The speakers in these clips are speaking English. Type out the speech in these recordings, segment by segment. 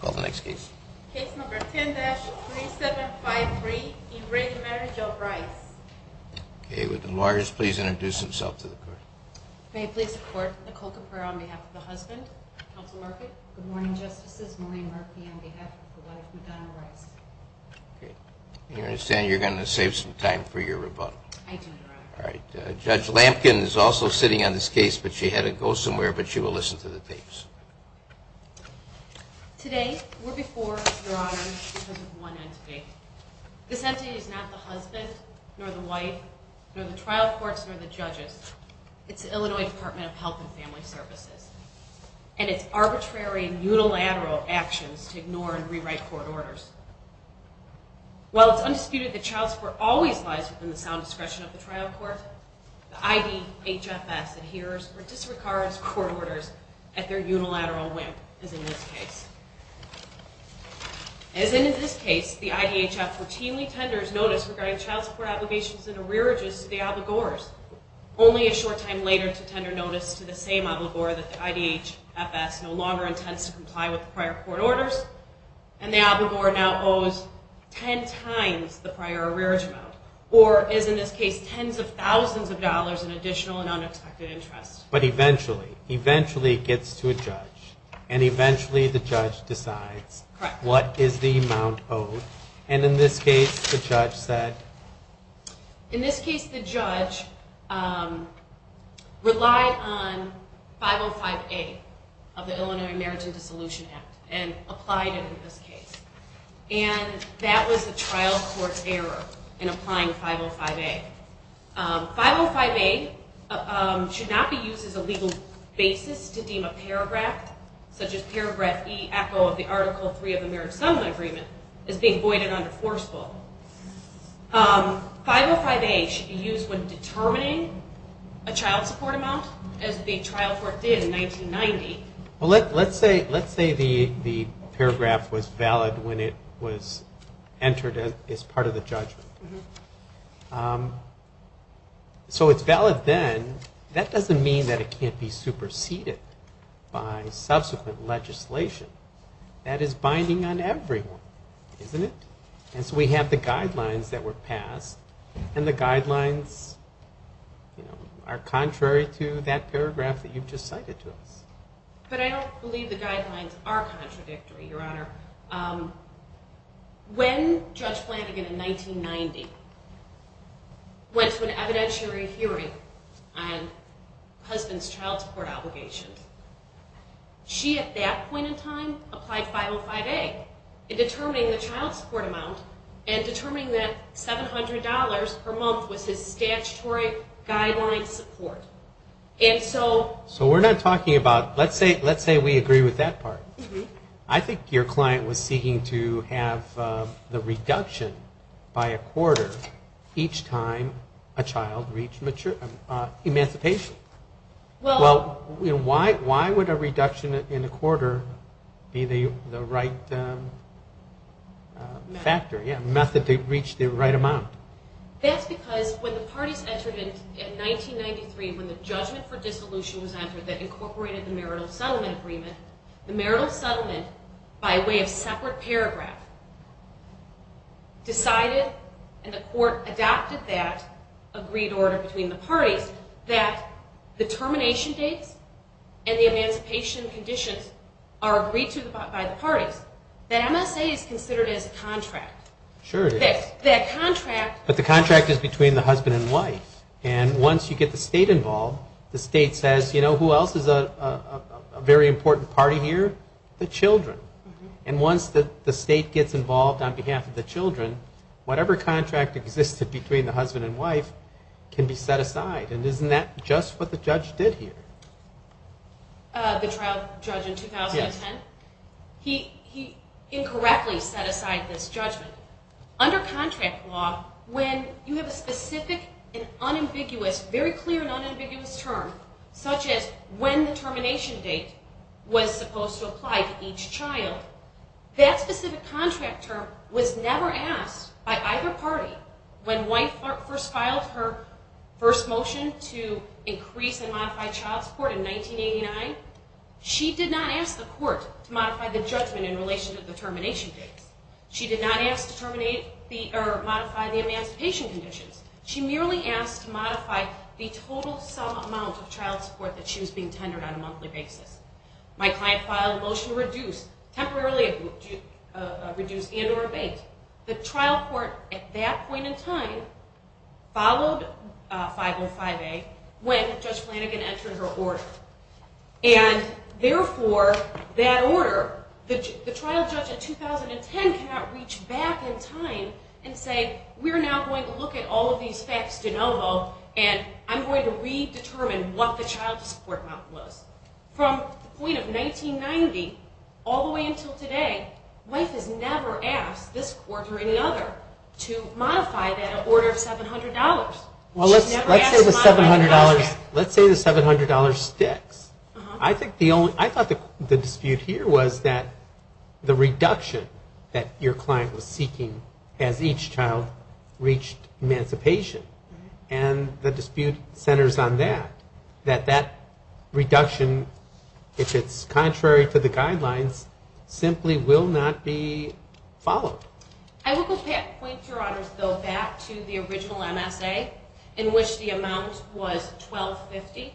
Call the next case. Case number 10-3753, re the Marriage of Rice. Okay, would the lawyers please introduce themselves to the court. May I please report, Nicole Caprera on behalf of the husband, counsel Murphy. Good morning, Justices, Maureen Murphy on behalf of the wife, Madonna Rice. Okay, I understand you're going to save some time for your rebuttal. I do, Your Honor. Alright, Judge Lampkin is also sitting on this case, but she had to go somewhere, but she will listen to the tapes. Today, we're before you, Your Honor, because of one entity. This entity is not the husband, nor the wife, nor the trial courts, nor the judges. It's the Illinois Department of Health and Family Services, and it's arbitrary and unilateral actions to ignore and rewrite court orders. While it's undisputed that child support always lies within the sound discretion of the trial court, the IDHFS adheres or disregards court orders at their unilateral whim, as in this case. As in this case, the IDHF routinely tenders notice regarding child support obligations and arrearages to the obligors, only a short time later to tender notice to the same obligor that the IDHFS no longer intends to comply with prior court orders, and the obligor now owes ten times the prior arrearage amount, or is, in this case, tens of thousands of dollars in additional and unexpected interest. But eventually, eventually it gets to a judge, and eventually the judge decides what is the amount owed, and in this case, the judge said... And that was the trial court error in applying 505A. 505A should not be used as a legal basis to deem a paragraph, such as paragraph E, echo of the Article 3 of the Marriage Summon Agreement, as being voided under forceful. 505A should be used when determining a child support amount, as the trial court did in 1990. Well, let's say the paragraph was valid when it was entered as part of the judgment. So it's valid then. That doesn't mean that it can't be superseded by subsequent legislation. That is binding on everyone, isn't it? And so we have the guidelines that were passed, and the guidelines are contrary to that paragraph that you've just cited to us. But I don't believe the guidelines are contradictory, Your Honor. When Judge Flanagan in 1990 went to an evidentiary hearing on husband's child support obligations, she at that point in time applied 505A in determining the child support amount, and determining that $700 per month was his statutory guideline support. And so... So we're not talking about... Let's say we agree with that part. I think your client was seeking to have the reduction by a quarter each time a child reached emancipation. Why would a reduction in a quarter be the right method to reach the right amount? That's because when the parties entered in 1993, when the judgment for dissolution was entered that incorporated the marital settlement agreement, the marital settlement, by way of separate paragraph, decided, and the court adopted that agreed order between the parties, that the termination dates and the emancipation conditions are agreed to by the parties, that MSA is considered as a contract. Sure it is. That contract... But the contract is between the husband and wife. And once you get the state involved, the state says, you know, who else is a very important party here? The children. And once the state gets involved on behalf of the children, whatever contract existed between the husband and wife can be set aside. And isn't that just what the judge did here? The trial judge in 2010? Yes. He incorrectly set aside this judgment. Under contract law, when you have a specific and unambiguous, very clear and unambiguous term, such as when the termination date was supposed to apply to each child, that specific contract term was never asked by either party. When wife first filed her first motion to increase and modify child support in 1989, she did not ask the court to modify the judgment in relation to the termination dates. She did not ask to modify the emancipation conditions. She merely asked to modify the total sum amount of child support that she was being tendered on a monthly basis. My client filed a motion to reduce, temporarily reduce and or abate. The trial court at that point in time followed 505A when Judge Flanagan entered her order. And therefore, that order, the trial judge in 2010 cannot reach back in time and say, we're now going to look at all of these facts de novo, and I'm going to redetermine what the child support amount was. From the point of 1990 all the way until today, wife has never asked this court or any other to modify that order of $700. Well, let's say the $700 sticks. I thought the dispute here was that the reduction that your client was seeking as each child reached emancipation, and the dispute centers on that, that that reduction, if it's contrary to the guidelines, simply will not be followed. I will point, Your Honors, though, back to the original MSA in which the amount was $1,250.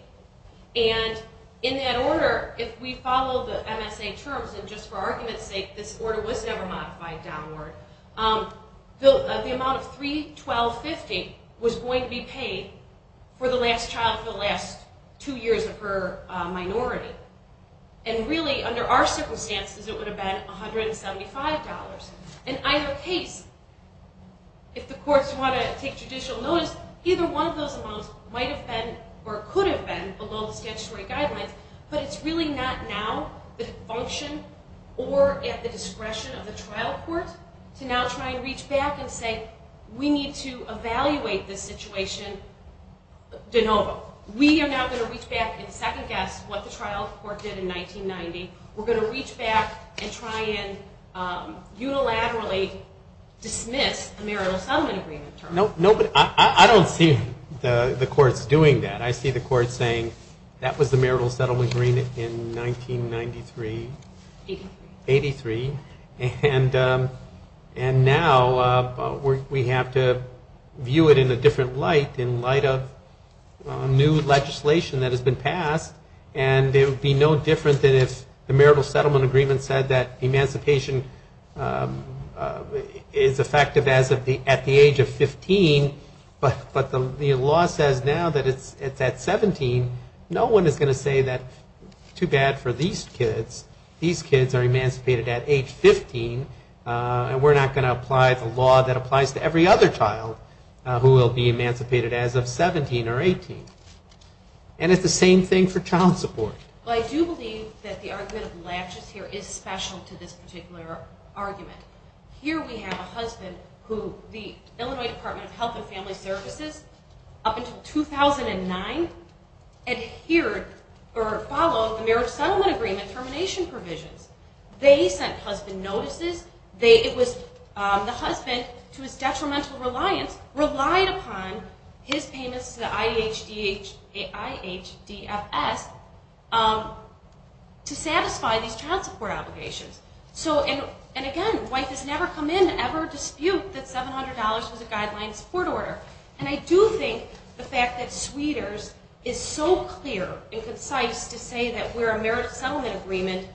And in that order, if we follow the MSA terms, and just for argument's sake, this order was never modified downward, the amount of $3,250 was going to be paid for the last child for the last two years of her minority. And really, under our circumstances, it would have been $175. In either case, if the courts want to take judicial notice, either one of those amounts might have been or could have been below the statutory guidelines, but it's really not now the function or at the discretion of the trial court to now try and reach back and say, we need to evaluate this situation de novo. We are now going to reach back and second-guess what the trial court did in 1990. We're going to reach back and try and unilaterally dismiss the marital settlement agreement terms. No, but I don't see the courts doing that. I see the courts saying, that was the marital settlement agreement in 1993. 83. 83. And now we have to view it in a different light, in light of new legislation that has been passed, and it would be no different than if the marital settlement agreement said that emancipation is effective at the age of 15, but the law says now that it's at 17. No one is going to say that too bad for these kids. These kids are emancipated at age 15, and we're not going to apply the law that applies to every other child who will be emancipated as of 17 or 18. And it's the same thing for child support. Well, I do believe that the argument of latches here is special to this particular argument. Here we have a husband who the Illinois Department of Health and Family Services, up until 2009, adhered or followed the marital settlement agreement termination provisions. They sent husband notices. The husband, to his detrimental reliance, relied upon his payments to the IHDFS to satisfy these child support obligations. And again, wife has never come in to ever dispute that $700 was a guideline support order. And I do think the fact that Sweeters is so clear and concise to say that we're a marital settlement agreement,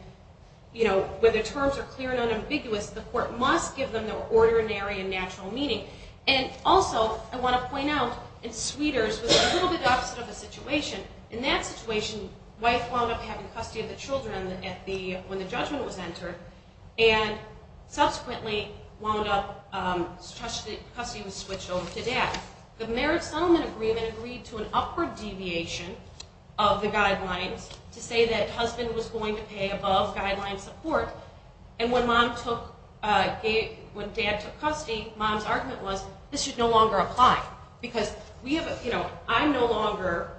where the terms are clear and unambiguous, the court must give them their ordinary and natural meaning. And also, I want to point out, in Sweeters, it was a little bit the opposite of the situation. In that situation, wife wound up having custody of the children when the judgment was entered, and subsequently wound up custody was switched over to dad. The marriage settlement agreement agreed to an upward deviation of the guidelines to say that husband was going to pay above guideline support, and when dad took custody, mom's argument was this should no longer apply because I'm no longer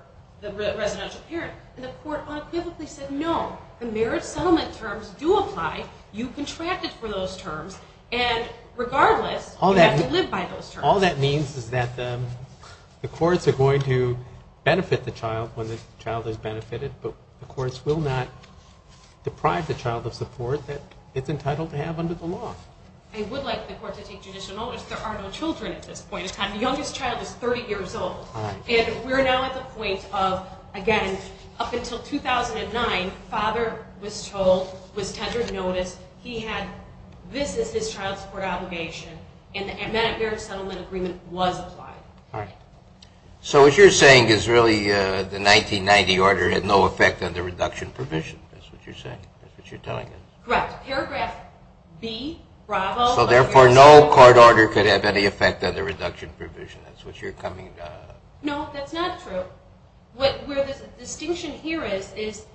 the residential parent. And the court unequivocally said no, the marriage settlement terms do apply. You contracted for those terms, and regardless, you have to live by those terms. All that means is that the courts are going to benefit the child when the child is benefited, but the courts will not deprive the child of support that it's entitled to have under the law. I would like the court to take judicial notice. There are no children at this point in time. The youngest child is 30 years old. And we're now at the point of, again, up until 2009, father was told, was tendered notice, he had this as his child support obligation, and that marriage settlement agreement was applied. All right. So what you're saying is really the 1990 order had no effect on the reduction provision. That's what you're saying. That's what you're telling us. Correct. Paragraph B, bravo. So therefore, no court order could have any effect on the reduction provision. That's what you're coming to. No, that's not true. Where the distinction here is, is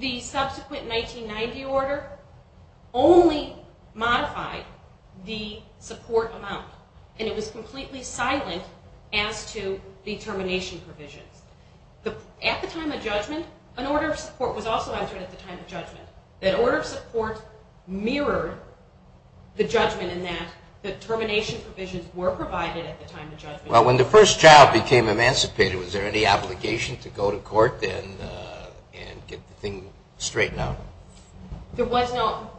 the subsequent 1990 order only modified the support amount, and it was completely silent as to the termination provisions. At the time of judgment, an order of support was also entered at the time of judgment. That order of support mirrored the judgment in that the termination provisions were provided at the time of judgment. Well, when the first child became emancipated, was there any obligation to go to court and get the thing straightened out? There was not.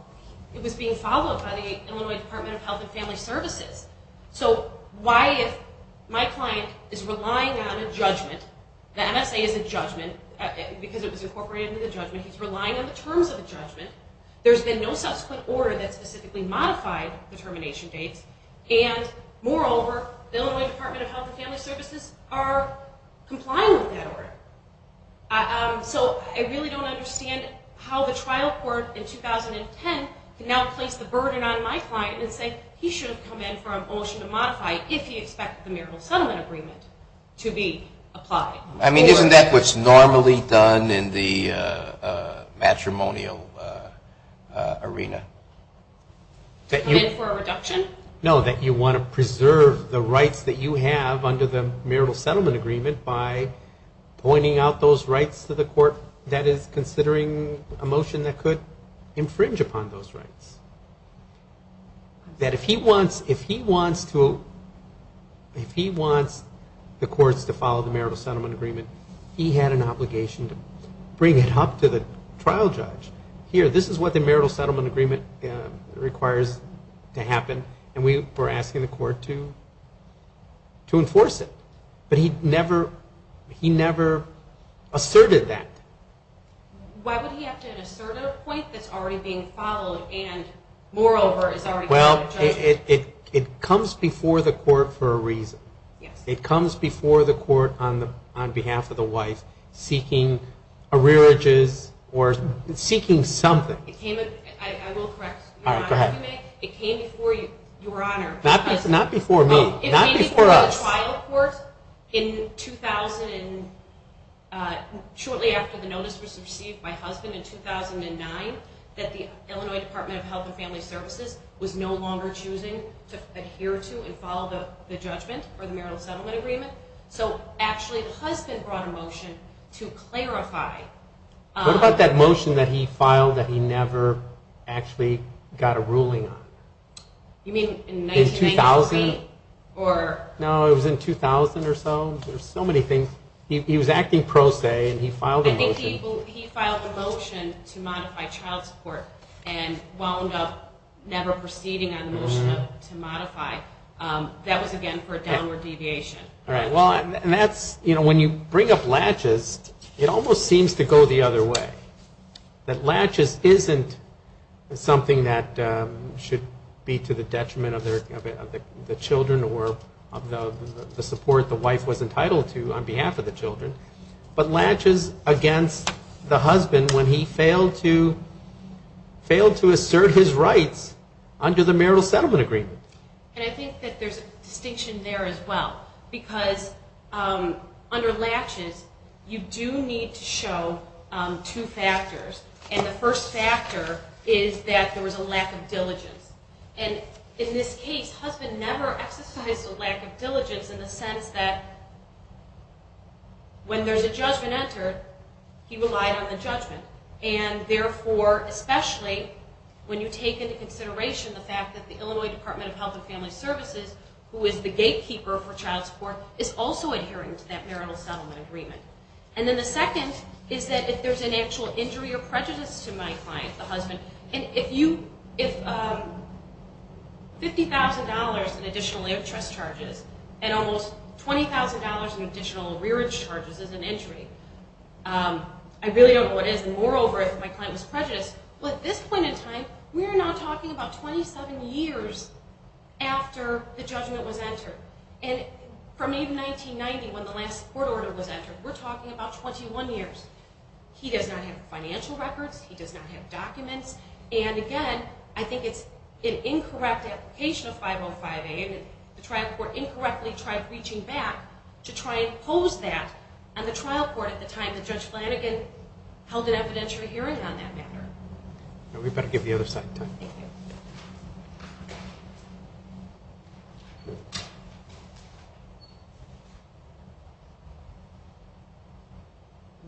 It was being followed by the Illinois Department of Health and Family Services. So why, if my client is relying on a judgment, the MSA is a judgment because it was incorporated into the judgment, he's relying on the terms of the judgment. There's been no subsequent order that specifically modified the termination dates, and moreover, the Illinois Department of Health and Family Services are complying with that order. So I really don't understand how the trial court in 2010 can now place the burden on my client and say he should have come in for a motion to modify if he expected the marital settlement agreement to be applied. I mean, isn't that what's normally done in the matrimonial arena? Come in for a reduction? No, that you want to preserve the rights that you have under the marital settlement agreement by pointing out those rights to the court that is considering a motion that could infringe upon those rights. That if he wants the courts to follow the marital settlement agreement, he had an obligation to bring it up to the trial judge. Here, this is what the marital settlement agreement requires to happen, and we're asking the court to enforce it. But he never asserted that. Why would he have to assert at a point that's already being followed and, moreover, is already being judged? Well, it comes before the court for a reason. It comes before the court on behalf of the wife seeking arrearages or seeking something. I will correct you, Your Honor. Go ahead. It came before you, Your Honor. Not before me, not before us. It came before the trial court shortly after the notice was received by husband in 2009 that the Illinois Department of Health and Family Services was no longer choosing to adhere to and follow the judgment or the marital settlement agreement. So actually, the husband brought a motion to clarify. What about that motion that he filed that he never actually got a ruling on? You mean in 1993? No, it was in 2000 or so. There's so many things. He was acting pro se, and he filed a motion. I think he filed a motion to modify child support and wound up never proceeding on the motion to modify. That was, again, for a downward deviation. When you bring up latches, it almost seems to go the other way, that latches isn't something that should be to the detriment of the children or of the support the wife was entitled to on behalf of the children, but latches against the husband when he failed to assert his rights under the marital settlement agreement. And I think that there's a distinction there as well, because under latches, you do need to show two factors. And the first factor is that there was a lack of diligence. And in this case, husband never exercised a lack of diligence in the sense that when there's a judgment entered, he relied on the judgment. And therefore, especially when you take into consideration the fact that the Illinois Department of Health and Family Services, who is the gatekeeper for child support, is also adhering to that marital settlement agreement. And then the second is that if there's an actual injury or prejudice to my client, the husband, and if $50,000 in additional interest charges and almost $20,000 in additional rearage charges is an injury, I really don't know what is. And moreover, if my client was prejudiced. But at this point in time, we are now talking about 27 years after the judgment was entered. And from even 1990, when the last court order was entered, we're talking about 21 years. He does not have financial records. He does not have documents. And again, I think it's an incorrect application of 505A, and the trial court incorrectly tried reaching back to try and pose that on the trial court at the time that Judge Flanagan held an evidentiary hearing on that matter. We better give the other side time. Good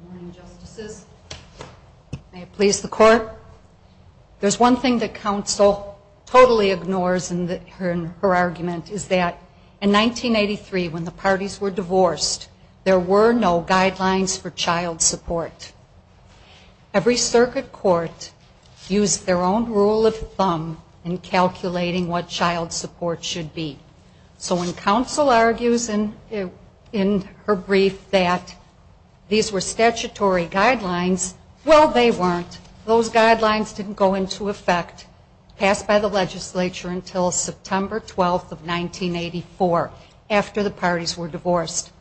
morning, Justices. May it please the Court. There's one thing that counsel totally ignores in her argument, is that in 1983, when the parties were divorced, there were no guidelines for child support. Every circuit court used their own rule of thumb in calculating what child support should be. So when counsel argues in her brief that these were statutory guidelines, well, they weren't. Those guidelines didn't go into effect, passed by the legislature, until September 12th of 1984, after the parties were divorced.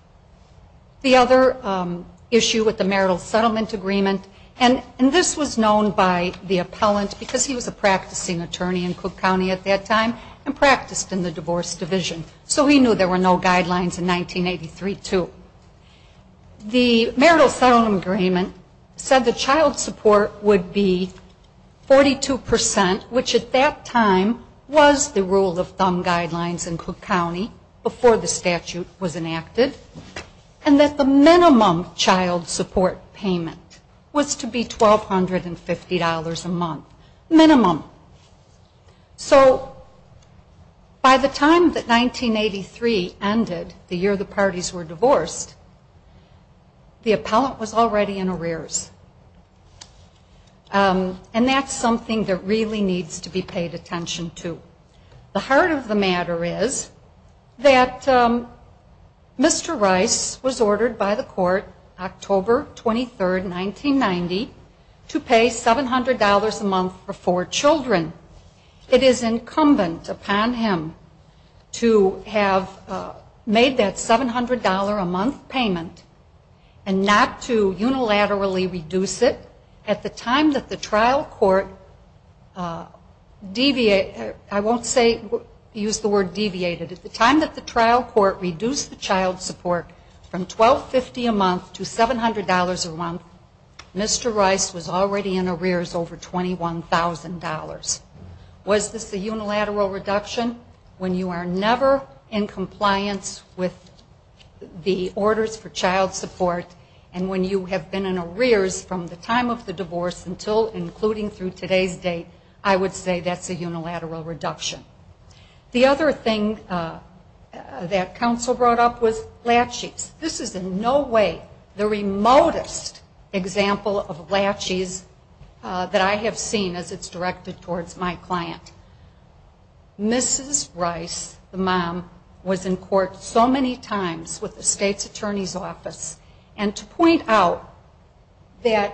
The other issue with the marital settlement agreement, and this was known by the appellant, because he was a practicing attorney in Cook County at that time and practiced in the divorce division. So he knew there were no guidelines in 1983, too. The marital settlement agreement said the child support would be 42%, which at that time was the rule of thumb guidelines in Cook County, before the statute was enacted, and that the minimum child support payment was to be $1,250 a month. Minimum. So by the time that 1983 ended, the year the parties were divorced, the appellant was already in arrears. And that's something that really needs to be paid attention to. The heart of the matter is that Mr. Rice was ordered by the court, October 23rd, 1990, to pay $700 a month for four children. It is incumbent upon him to have made that $700 a month payment and not to unilaterally reduce it at the time that the trial court deviated. I won't use the word deviated. At the time that the trial court reduced the child support from $1,250 a month to $700 a month, Mr. Rice was already in arrears over $21,000. Was this a unilateral reduction? When you are never in compliance with the orders for child support and when you have been in arrears from the time of the divorce until including through today's date, I would say that's a unilateral reduction. The other thing that counsel brought up was laches. This is in no way the remotest example of laches that I have seen as it's directed towards my client. Mrs. Rice, the mom, was in court so many times with the state's attorney's office. And to point out that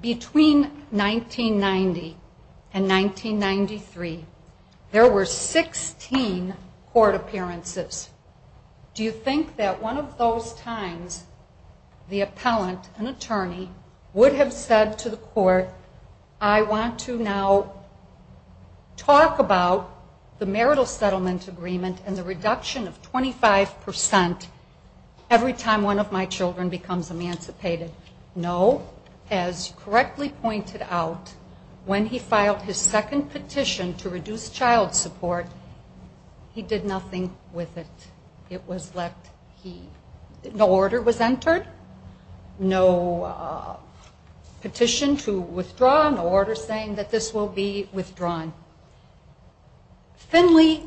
between 1990 and 1993, there were 16 court appearances. Do you think that one of those times the appellant, an attorney, would have said to the court, I want to now talk about the marital settlement agreement and the reduction of 25% every time one of my children becomes emancipated? No. As correctly pointed out, when he filed his second petition to reduce child support, he did nothing with it. It was left he. No order was entered, no petition to withdraw, no order saying that this will be withdrawn. Finley,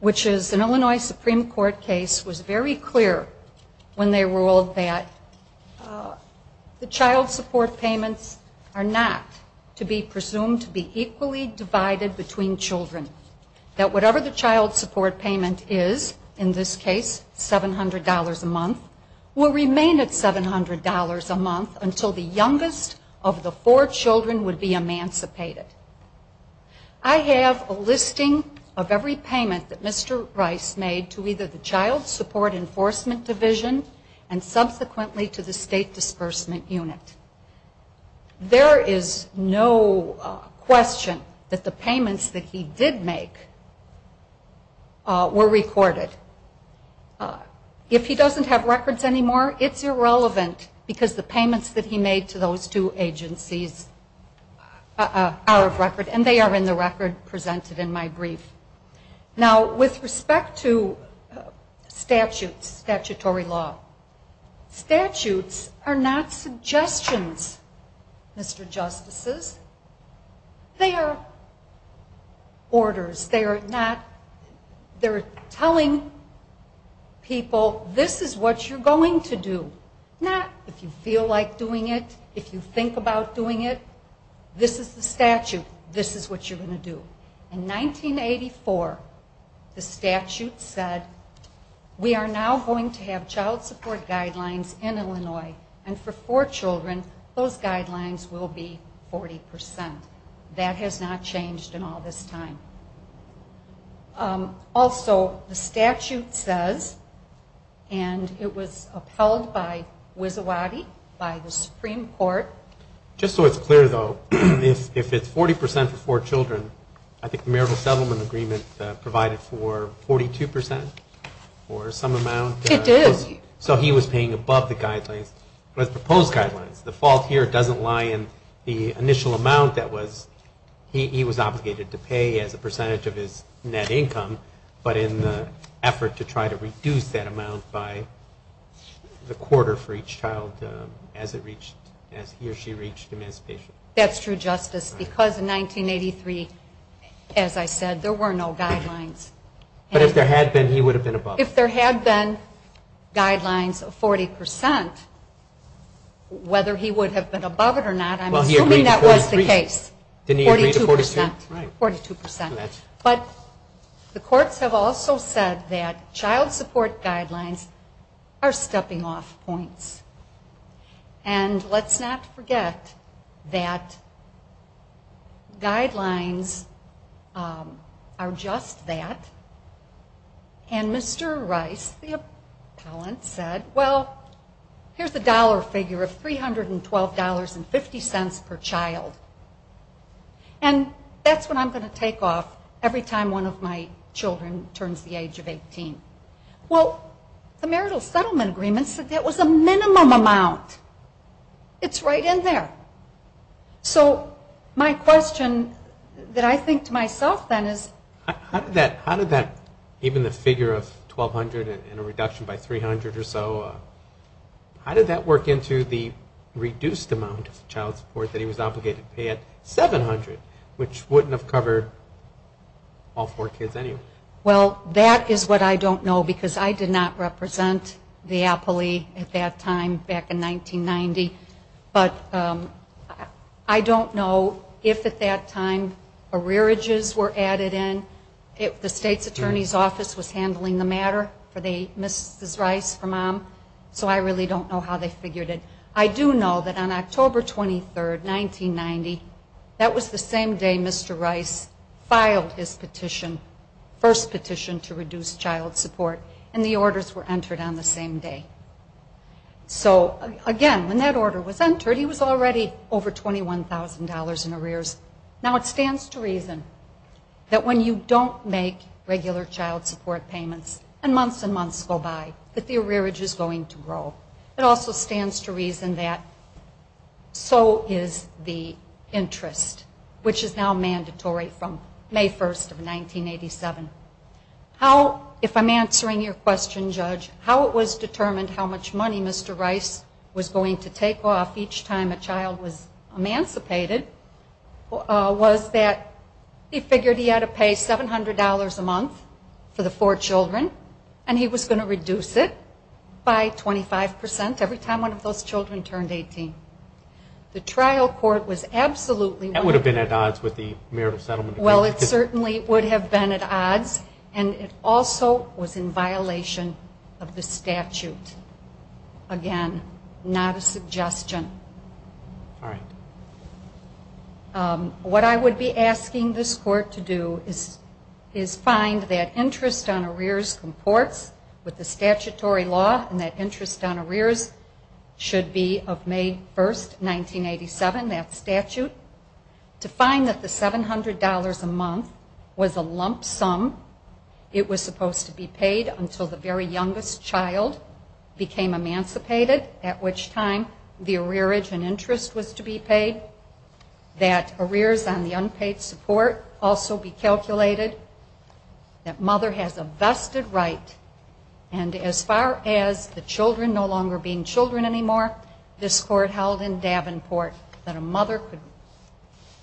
which is an Illinois Supreme Court case, was very clear when they ruled that the child support payments are not to be presumed to be equally divided between children, that whatever the child support payment is, in this case $700 a month, will remain at $700 a month until the youngest of the four children would be emancipated. I have a listing of every payment that Mr. Rice made to either the Child Support Enforcement Division and subsequently to the State Disbursement Unit. There is no question that the payments that he did make were recorded. If he doesn't have records anymore, it's irrelevant because the payments that he made to those two agencies are of record, and they are in the record presented in my brief. Now, with respect to statutes, statutory law, statutes are not suggestions, Mr. Justices. They are orders. They are telling people, this is what you're going to do. Not if you feel like doing it, if you think about doing it. This is the statute. This is what you're going to do. In 1984, the statute said, we are now going to have child support guidelines in Illinois, and for four children, those guidelines will be 40%. That has not changed in all this time. Also, the statute says, and it was upheld by Wisawati, by the Supreme Court. Just so it's clear, though, if it's 40% for four children, I think the marital settlement agreement provided for 42% or some amount. It did. So he was paying above the guidelines, the proposed guidelines. The fault here doesn't lie in the initial amount that he was obligated to pay as a percentage of his net income, but in the effort to try to reduce that amount by the quarter for each child as he or she reached emancipation. That's true, Justice, because in 1983, as I said, there were no guidelines. But if there had been, he would have been above it. If there had been guidelines of 40%, whether he would have been above it or not, I'm assuming that was the case, 42%. But the courts have also said that child support guidelines are stepping off points. And let's not forget that guidelines are just that. And Mr. Rice, the appellant, said, well, here's the dollar figure of $312.50 per child. And that's what I'm going to take off every time one of my children turns the age of 18. Well, the marital settlement agreement said that was a minimum amount. It's right in there. So my question that I think to myself then is... How did that, even the figure of $1,200 and a reduction by $300 or so, how did that work into the reduced amount of child support that he was obligated to pay at $700, which wouldn't have covered all four kids anyway? Well, that is what I don't know because I did not represent the appellee at that time back in 1990. But I don't know if at that time arrearages were added in, if the state's attorney's office was handling the matter for Mrs. Rice, her mom. So I really don't know how they figured it. I do know that on October 23, 1990, that was the same day Mr. Rice filed his petition, first petition to reduce child support, and the orders were entered on the same day. So, again, when that order was entered, he was already over $21,000 in arrears. Now, it stands to reason that when you don't make regular child support payments and months and months go by, that the arrearage is going to grow. It also stands to reason that so is the interest, which is now mandatory from May 1, 1987. How, if I'm answering your question, Judge, how it was determined how much money Mr. Rice was going to take off each time a child was emancipated was that he figured he had to pay $700 a month for the four children, and he was going to reduce it by 25% every time one of those children turned 18. The trial court was absolutely... That would have been at odds with the marital settlement. Well, it certainly would have been at odds, and it also was in violation of the statute. Again, not a suggestion. All right. What I would be asking this court to do is find that interest on arrears comports with the statutory law and that interest on arrears should be of May 1, 1987, that statute, to find that the $700 a month was a lump sum. It was supposed to be paid until the very youngest child became emancipated, at which time the arrearage and interest was to be paid, that arrears on the unpaid support also be calculated, that mother has a vested right, and as far as the children no longer being children anymore, this court held in Davenport that a mother could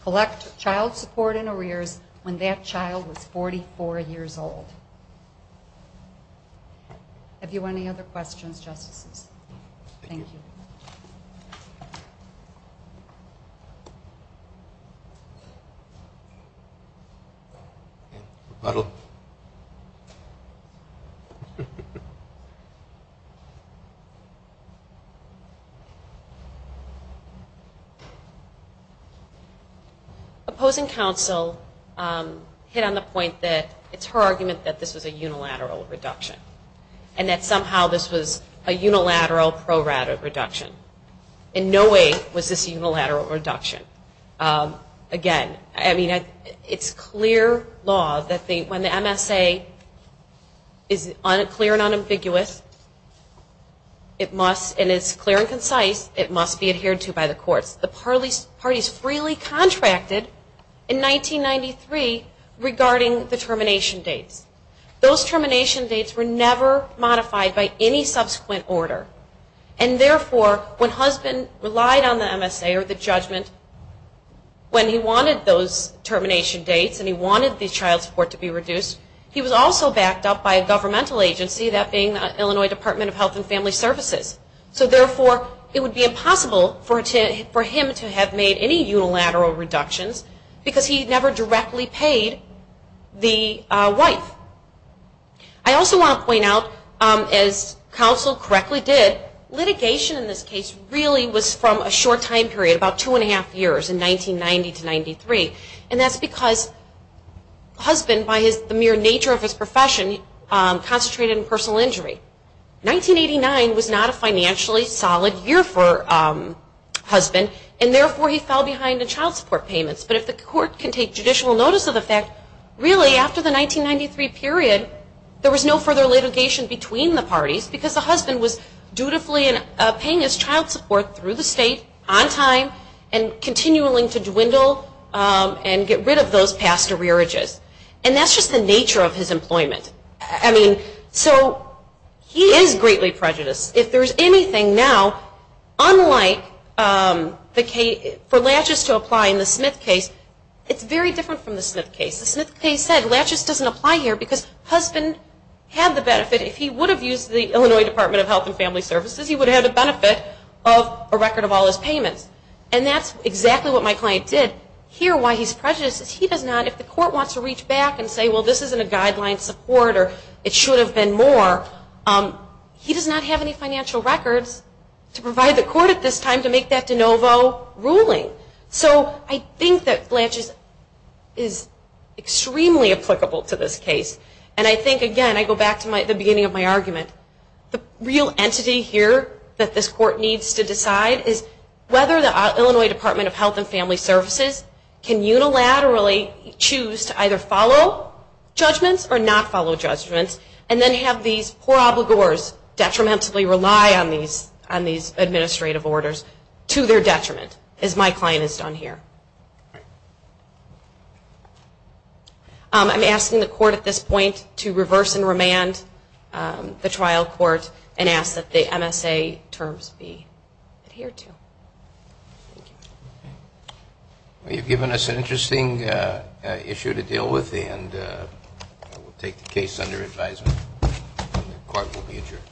collect child support and arrears when that child was 44 years old. Have you any other questions, Justices? Thank you. Rebuttal. Opposing counsel hit on the point that it's her argument that this was a unilateral reduction and that somehow this was a unilateral pro-rata reduction. In no way was this a unilateral reduction. Again, I mean, it's clear law that when the MSA is clear and unambiguous, it must, and it's clear and concise, it must be adhered to by the courts. The parties freely contracted in 1993 regarding the termination dates. Those termination dates were never modified by any subsequent order. And therefore, when husband relied on the MSA or the judgment, when he wanted those termination dates and he wanted the child support to be reduced, he was also backed up by a governmental agency, that being the Illinois Department of Health and Family Services. So therefore, it would be impossible for him to have made any unilateral reductions because he never directly paid the wife. I also want to point out, as counsel correctly did, litigation in this case really was from a short time period, about two and a half years, in 1990 to 1993. And that's because husband, by the mere nature of his profession, concentrated in personal injury. 1989 was not a financially solid year for husband, and therefore he fell behind in child support payments. But if the court can take judicial notice of the fact, really after the 1993 period, there was no further litigation between the parties because the husband was dutifully paying his child support through the state, on time, and continually to dwindle and get rid of those past arrearages. And that's just the nature of his employment. I mean, so he is greatly prejudiced. If there's anything now, unlike for Latchis to apply in the Smith case, it's very different from the Smith case. The Smith case said Latchis doesn't apply here because husband had the benefit. If he would have used the Illinois Department of Health and Family Services, he would have had the benefit of a record of all his payments. And that's exactly what my client did. Here, why he's prejudiced is he does not, if the court wants to reach back and say, well, this isn't a guideline support or it should have been more, he does not have any financial records to provide the court at this time to make that de novo ruling. So I think that Latchis is extremely applicable to this case. And I think, again, I go back to the beginning of my argument. The real entity here that this court needs to decide is whether the Illinois Department of Health and Family Services can unilaterally choose to either follow judgments or not follow judgments and then have these poor obligors detrimentally rely on these administrative orders to their detriment, as my client has done here. I'm asking the court at this point to reverse and remand the trial court and ask that the MSA terms be adhered to. Thank you. Well, you've given us an interesting issue to deal with, and we'll take the case under advisement. The court will be adjourned.